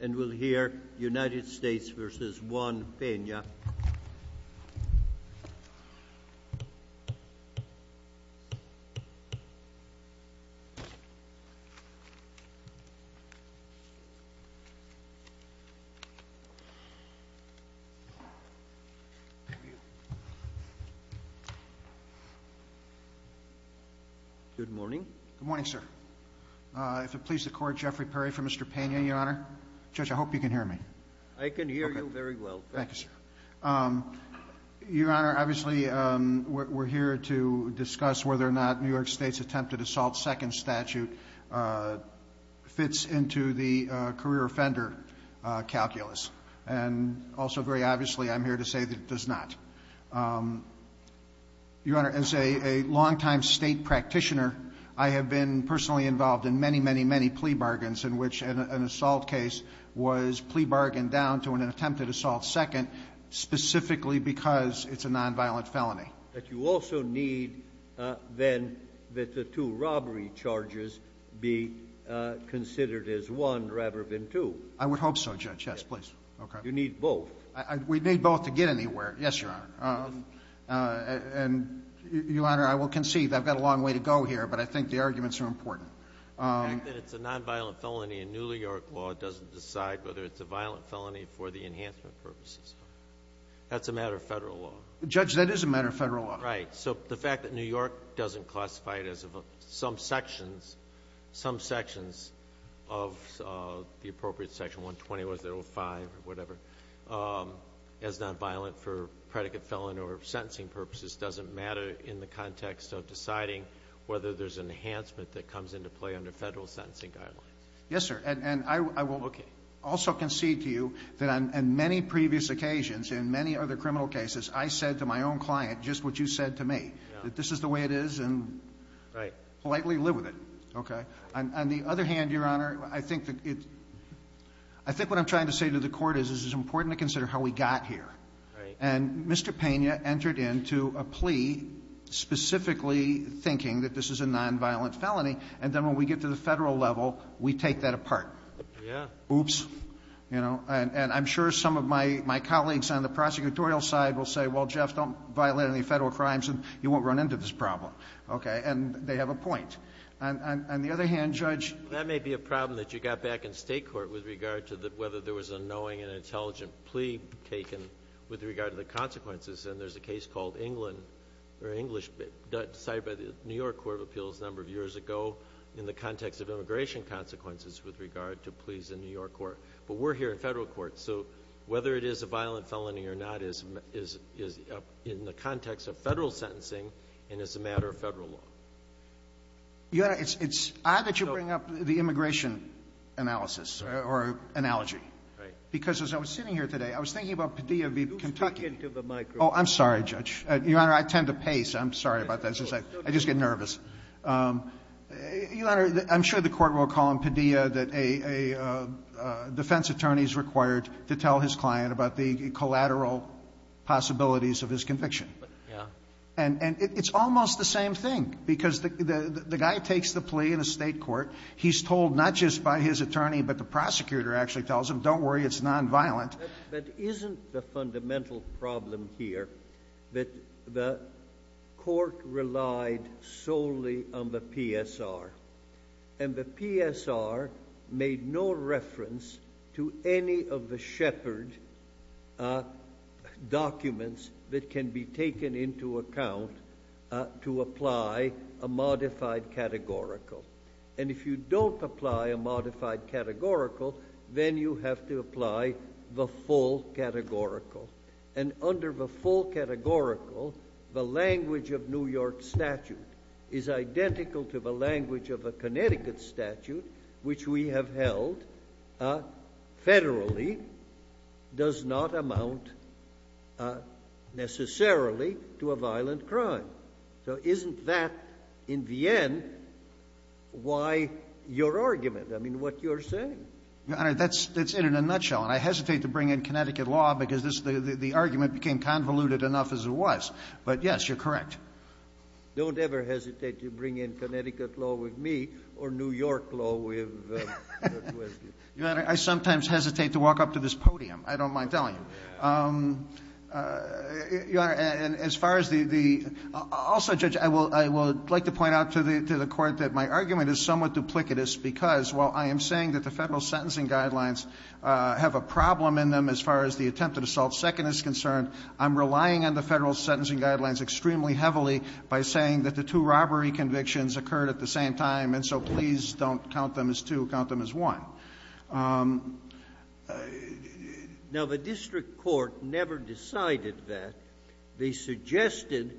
And we'll hear United States v. Juan Pena. Good morning. Good morning, sir. Uh, if it please the court, Jeffrey Perry for Mr. Pena, your honor, judge, I hope you can hear me. I can hear you very well. Thank you, sir. Um, your honor, obviously, um, we're here to discuss whether or not New York state's attempted assault second statute, uh, fits into the, uh, career offender, uh, calculus, and also very obviously I'm here to say that it does not. Um, your honor, as a, a longtime state practitioner, I have been personally involved in many, many, many plea bargains in which an assault case was plea bargained down to an attempted assault. Second, specifically because it's a nonviolent felony. But you also need, uh, then that the two robbery charges be, uh, considered as one rather than two. I would hope so judge. Yes, please. Okay. You need both. I, we need both to get anywhere. Yes, your honor. Uh, uh, and your honor, I will conceive. I've got a long way to go here, but I think the arguments are important. Um, The fact that it's a nonviolent felony in New York law doesn't decide whether it's a violent felony for the enhancement purposes, that's a matter of federal law. Judge, that is a matter of federal law. Right. So the fact that New York doesn't classify it as some sections, some sections of, uh, the appropriate section, 120, 105 or whatever, um, as nonviolent for predicate felon or sentencing purposes, doesn't matter in the context of deciding whether there's an enhancement that comes into play under federal sentencing guidelines. Yes, sir. And I will also concede to you that on many previous occasions in many other criminal cases, I said to my own client, just what you said to me, that this is the way it is and politely live with it. Okay. And on the other hand, your honor, I think that it, I think what I'm trying to say to the court is, is it's important to consider how we got here. And Mr. Pena entered into a plea specifically thinking that this is a nonviolent felony, and then when we get to the federal level, we take that apart. Oops. You know, and, and I'm sure some of my, my colleagues on the prosecutorial side will say, well, Jeff, don't violate any federal crimes and you won't run into this problem. Okay. And they have a point. And on the other hand, judge. That may be a problem that you got back in state court with regard to the, whether there was a knowing and intelligent plea taken with regard to the consequences. And there's a case called England or English, but decided by the New York court of appeals a number of years ago in the context of immigration consequences with regard to pleas in New York court. But we're here in federal court. So whether it is a violent felony or not is, is, is in the context of federal sentencing and as a matter of federal law. Yeah, it's, it's odd that you bring up the immigration analysis or analogy. Right. Because as I was sitting here today, I was thinking about Padilla v. Kentucky. Oh, I'm sorry, judge. Your Honor, I tend to pace. I'm sorry about that. It's just like, I just get nervous. Your Honor, I'm sure the court will call him Padilla that a, a defense attorney is required to tell his client about the collateral possibilities of his conviction. And it's almost the same thing because the, the, the guy takes the plea in a state court, he's told not just by his attorney, but the prosecutor actually tells him, don't worry, it's nonviolent. But isn't the fundamental problem here that the court relied solely on the PSR and the PSR made no reference to any of the shepherd documents that can be taken into account to apply a modified categorical. And if you don't apply a modified categorical, then you have to apply the full categorical. And under the full categorical, the language of New York statute is identical to the language of a Connecticut statute, which we have held federally does not amount necessarily to a violent crime. So isn't that in the end, why your argument? I mean, what you're saying. Your Honor, that's, that's in a nutshell. And I hesitate to bring in Connecticut law because this, the, the, the argument became convoluted enough as it was, but yes, you're correct. Don't ever hesitate to bring in Connecticut law with me or New York law with, with you. Your Honor, I sometimes hesitate to walk up to this podium. I don't mind telling you. Your Honor, and as far as the, the also judge, I will, I would like to point out to the, to the court that my argument is somewhat duplicitous because while I am saying that the federal sentencing guidelines have a problem in them, as far as the attempted assault second is concerned, I'm relying on the federal sentencing guidelines extremely heavily by saying that the two robbery convictions occurred at the same time. And so please don't count them as two, count them as one. Now, the district court never decided that. They suggested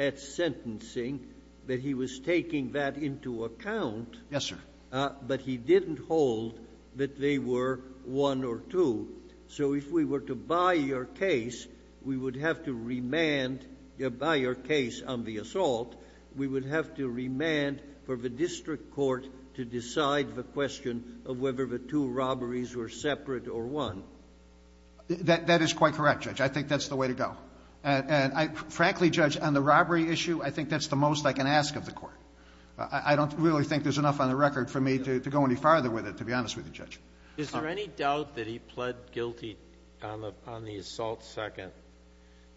at sentencing that he was taking that into account. Yes, sir. But he didn't hold that they were one or two. So if we were to buy your case, we would have to remand, buy your case on the assault. We would have to remand for the district court to decide the question of whether the two robberies were separate or one. That, that is quite correct, Judge. I think that's the way to go. And I frankly, Judge, on the robbery issue, I think that's the most I can ask of the court. I don't really think there's enough on the record for me to go any farther with it, to be honest with you, Judge. Is there any doubt that he pled guilty on the, on the assault second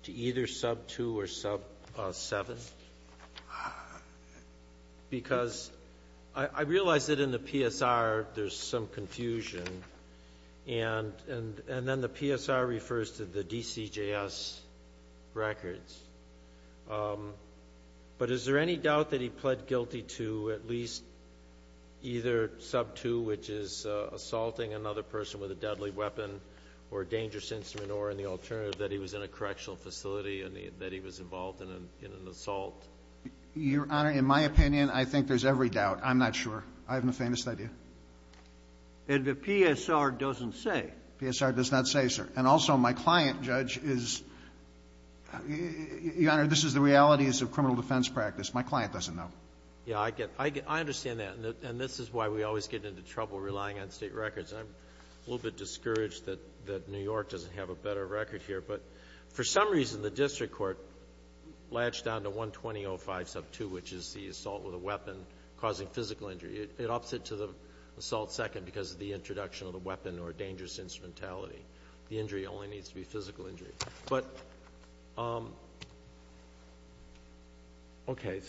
to either sub two or sub seven? Because I realized that in the PSR there's some confusion and, and, and then the PSR refers to the DCJS records. But is there any doubt that he pled guilty to at least either sub two, which is assaulting another person with a deadly weapon or dangerous instrument, or in the alternative, that he was in a correctional facility and that he was involved in, in an assault? Your Honor, in my opinion, I think there's every doubt. I'm not sure. I haven't the faintest idea. And the PSR doesn't say. PSR does not say, sir. And also my client, Judge, is, Your Honor, this is the realities of criminal defense practice. My client doesn't know. Yeah, I get, I get, I understand that. And this is why we always get into trouble relying on state records. And I'm a little bit discouraged that, that New York doesn't have a better record here. But for some reason, the district court latched down to 120.05 sub two, which is the assault with a weapon causing physical injury. It, it ups it to the assault second because of the introduction of the weapon or dangerous instrumentality. The injury only needs to be physical injury. But, okay,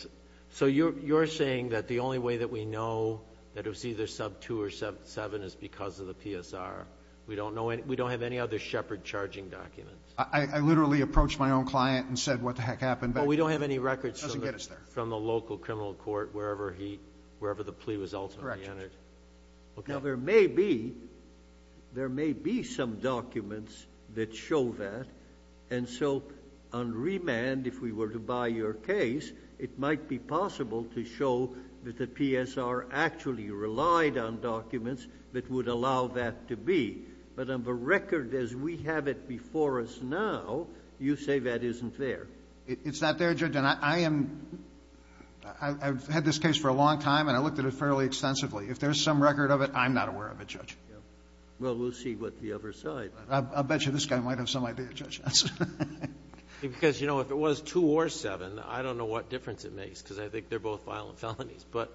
so you're, you're saying that the only way that we know that it was either sub two or sub seven is because of the PSR. We don't know any, we don't have any other Shepard charging documents. I literally approached my own client and said, what the heck happened? But we don't have any records from the local criminal court, wherever he, wherever the plea was ultimately entered. Okay. Now there may be, there may be some documents that show that. And so on remand, if we were to buy your case, it might be possible to show that the PSR actually relied on documents that would allow that to be, but on the record as we have it before us now, you say that isn't there. It's not there, Judge. And I am, I've had this case for a long time and I looked at it fairly extensively. If there's some record of it, I'm not aware of it, Judge. Well, we'll see what the other side. I'll bet you this guy might have some idea, Judge. Because, you know, if it was two or seven, I don't know what difference it makes because I think they're both violent felonies, but,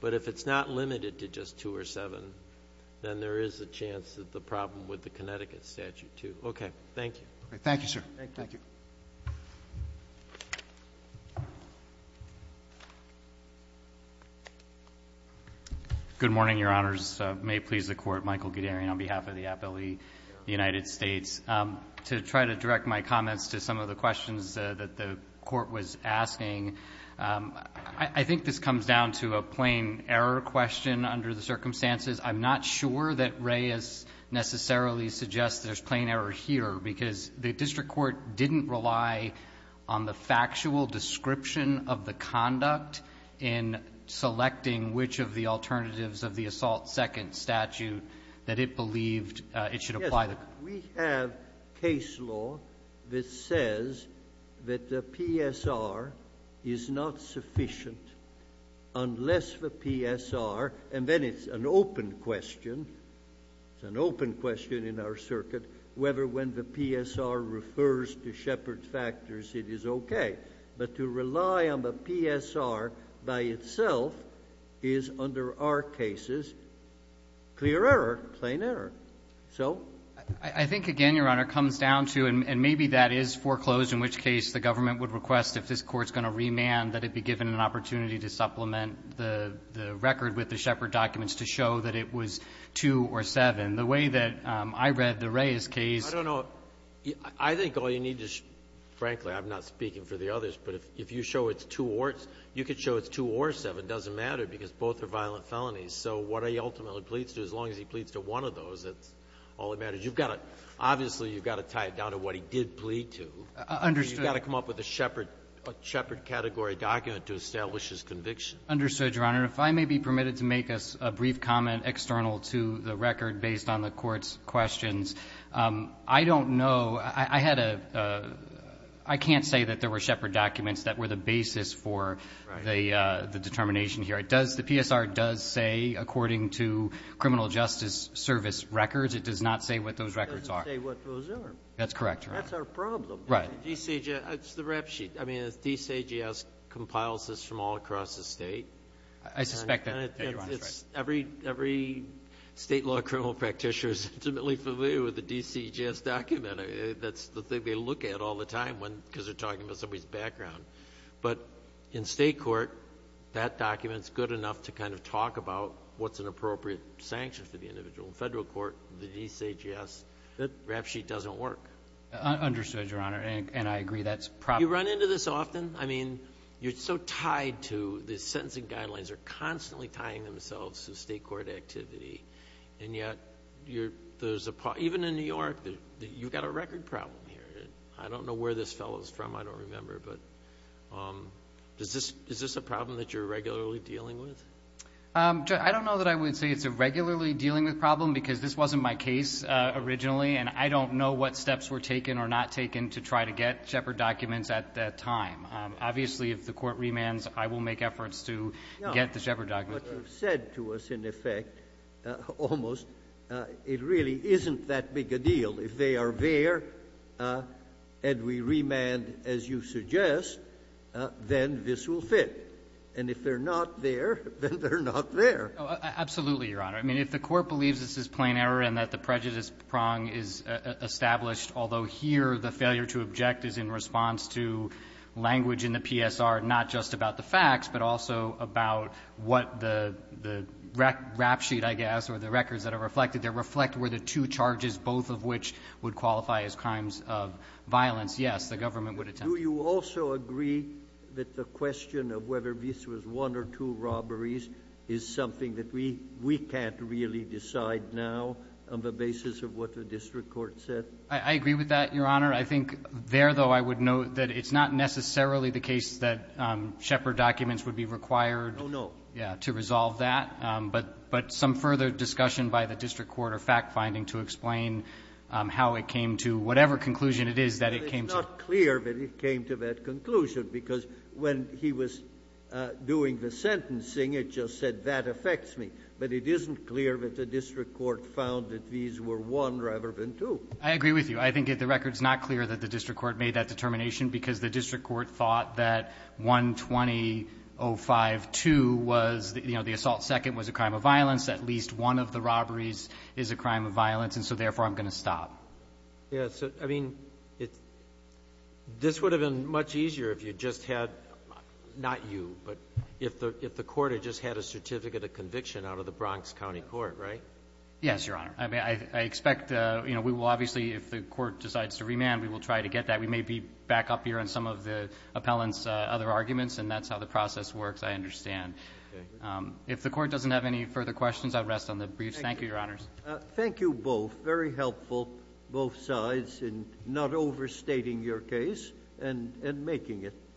but if it's not limited to just two or seven, then there is a chance that the problem with the Connecticut statute too. Okay. Thank you. Okay. Thank you, sir. Thank you. Good morning. Your honors may please the court. Michael Guderian on behalf of the appellee, the United States to try to direct my comments to some of the questions that the court was asking. I think this comes down to a plain error question under the circumstances. I'm not sure that Reyes necessarily suggests there's plain error here because the district court didn't rely on the factual description of the conduct in selecting which of the alternatives of the assault second statute that it believed it should apply to. We have case law that says that the PSR is not sufficient unless the PSR, and then it's an open question. It's an open question in our circuit, whether, when the PSR refers to Shepard factors, it is okay, but to rely on the PSR by itself is under our cases, clear error, plain error. So I think again, your honor comes down to, and maybe that is foreclosed, in which case the government would request if this court's going to remand that it'd be given an opportunity to supplement the record with the Shepard documents to show that it was two or seven. The way that I read the Reyes case, I think all you need to frankly, I'm not speaking for the others, but if you show it's two or you could show it's two or seven doesn't matter because both are violent felonies. So what he ultimately pleads to, as long as he pleads to one of those, that's all that matters. You've got to, obviously you've got to tie it down to what he did plead to. You've got to come up with a Shepard category document to establish his conviction. Understood, your honor. If I may be permitted to make a brief comment external to the record based on the court's questions, I don't know, I had a, I can't say that there were Shepard documents that were the basis for the determination here. It does, the PSR does say, according to criminal justice service records, it does not say what those records are. It doesn't say what those are. That's correct, your honor. That's our problem. Right. DCJS, it's the rap sheet. I mean, DCJS compiles this from all across the state. I suspect that, your honor, is right. Every, every state law criminal practitioner is intimately familiar with the DCJS document. That's the thing they look at all the time when, because they're talking about somebody's background. But in state court, that document's good enough to kind of talk about what's an appropriate sanction for the individual. In federal court, the DCJS, that rap sheet doesn't work. Understood, your honor. And I agree, that's probably. You run into this often. I mean, you're so tied to the sentencing guidelines are constantly tying themselves to state court activity. And yet, you're, there's a, even in New York, you've got a record problem here. I don't know where this fellow's from. I don't remember, but, is this, is this a problem that you're regularly dealing with? I don't know that I would say it's a regularly dealing with problem, because this wasn't my case, originally. And I don't know what steps were taken or not taken to try to get Shepard documents at that time. Obviously, if the court remands, I will make efforts to get the Shepard document. What you've said to us, in effect, almost, it really isn't that big a deal. If they are there, and we remand, as you suggest, then this will fit. And if they're not there, then they're not there. Absolutely, your honor. I mean, if the court believes this is plain error and that the prejudice prong is established, although here the failure to object is in response to language in the PSR, not just about the facts, but also about what the, the rap sheet, I guess, or the records that are reflected, they reflect where the two charges, both of which would qualify as crimes of violence, yes, the government would attempt. Do you also agree that the question of whether this was one or two robberies is something that we, we can't really decide now on the basis of what the district court said? I, I agree with that, your honor. I think there, though, I would note that it's not necessarily the case that Shepard documents would be required to resolve that. Oh, no. But some further discussion by the district court or fact-finding to explain how it came to whatever conclusion it is that it came to. It's not clear that it came to that conclusion, because when he was doing the sentencing, it just said that affects me. But it isn't clear that the district court found that these were one rather than two. I agree with you. I think the record is not clear that the district court made that determination because the district court thought that 120-052 was, you know, the assault second was a crime of violence. At least one of the robberies is a crime of violence. And so, therefore, I'm going to stop. Yeah. So, I mean, it's, this would have been much easier if you just had, not you, but if the, if the court had just had a certificate of conviction out of the Bronx County Court, right? Yes, your honor. I mean, I, I expect, you know, we will obviously, if the court decides to remand, we will try to get that. We may be back up here on some of the appellant's other arguments, and that's how the process works, I understand. Okay. If the court doesn't have any further questions, I'll rest on the briefs. Thank you, your honors. Thank you both. Very helpful, both sides, in not overstating your case and, and making it.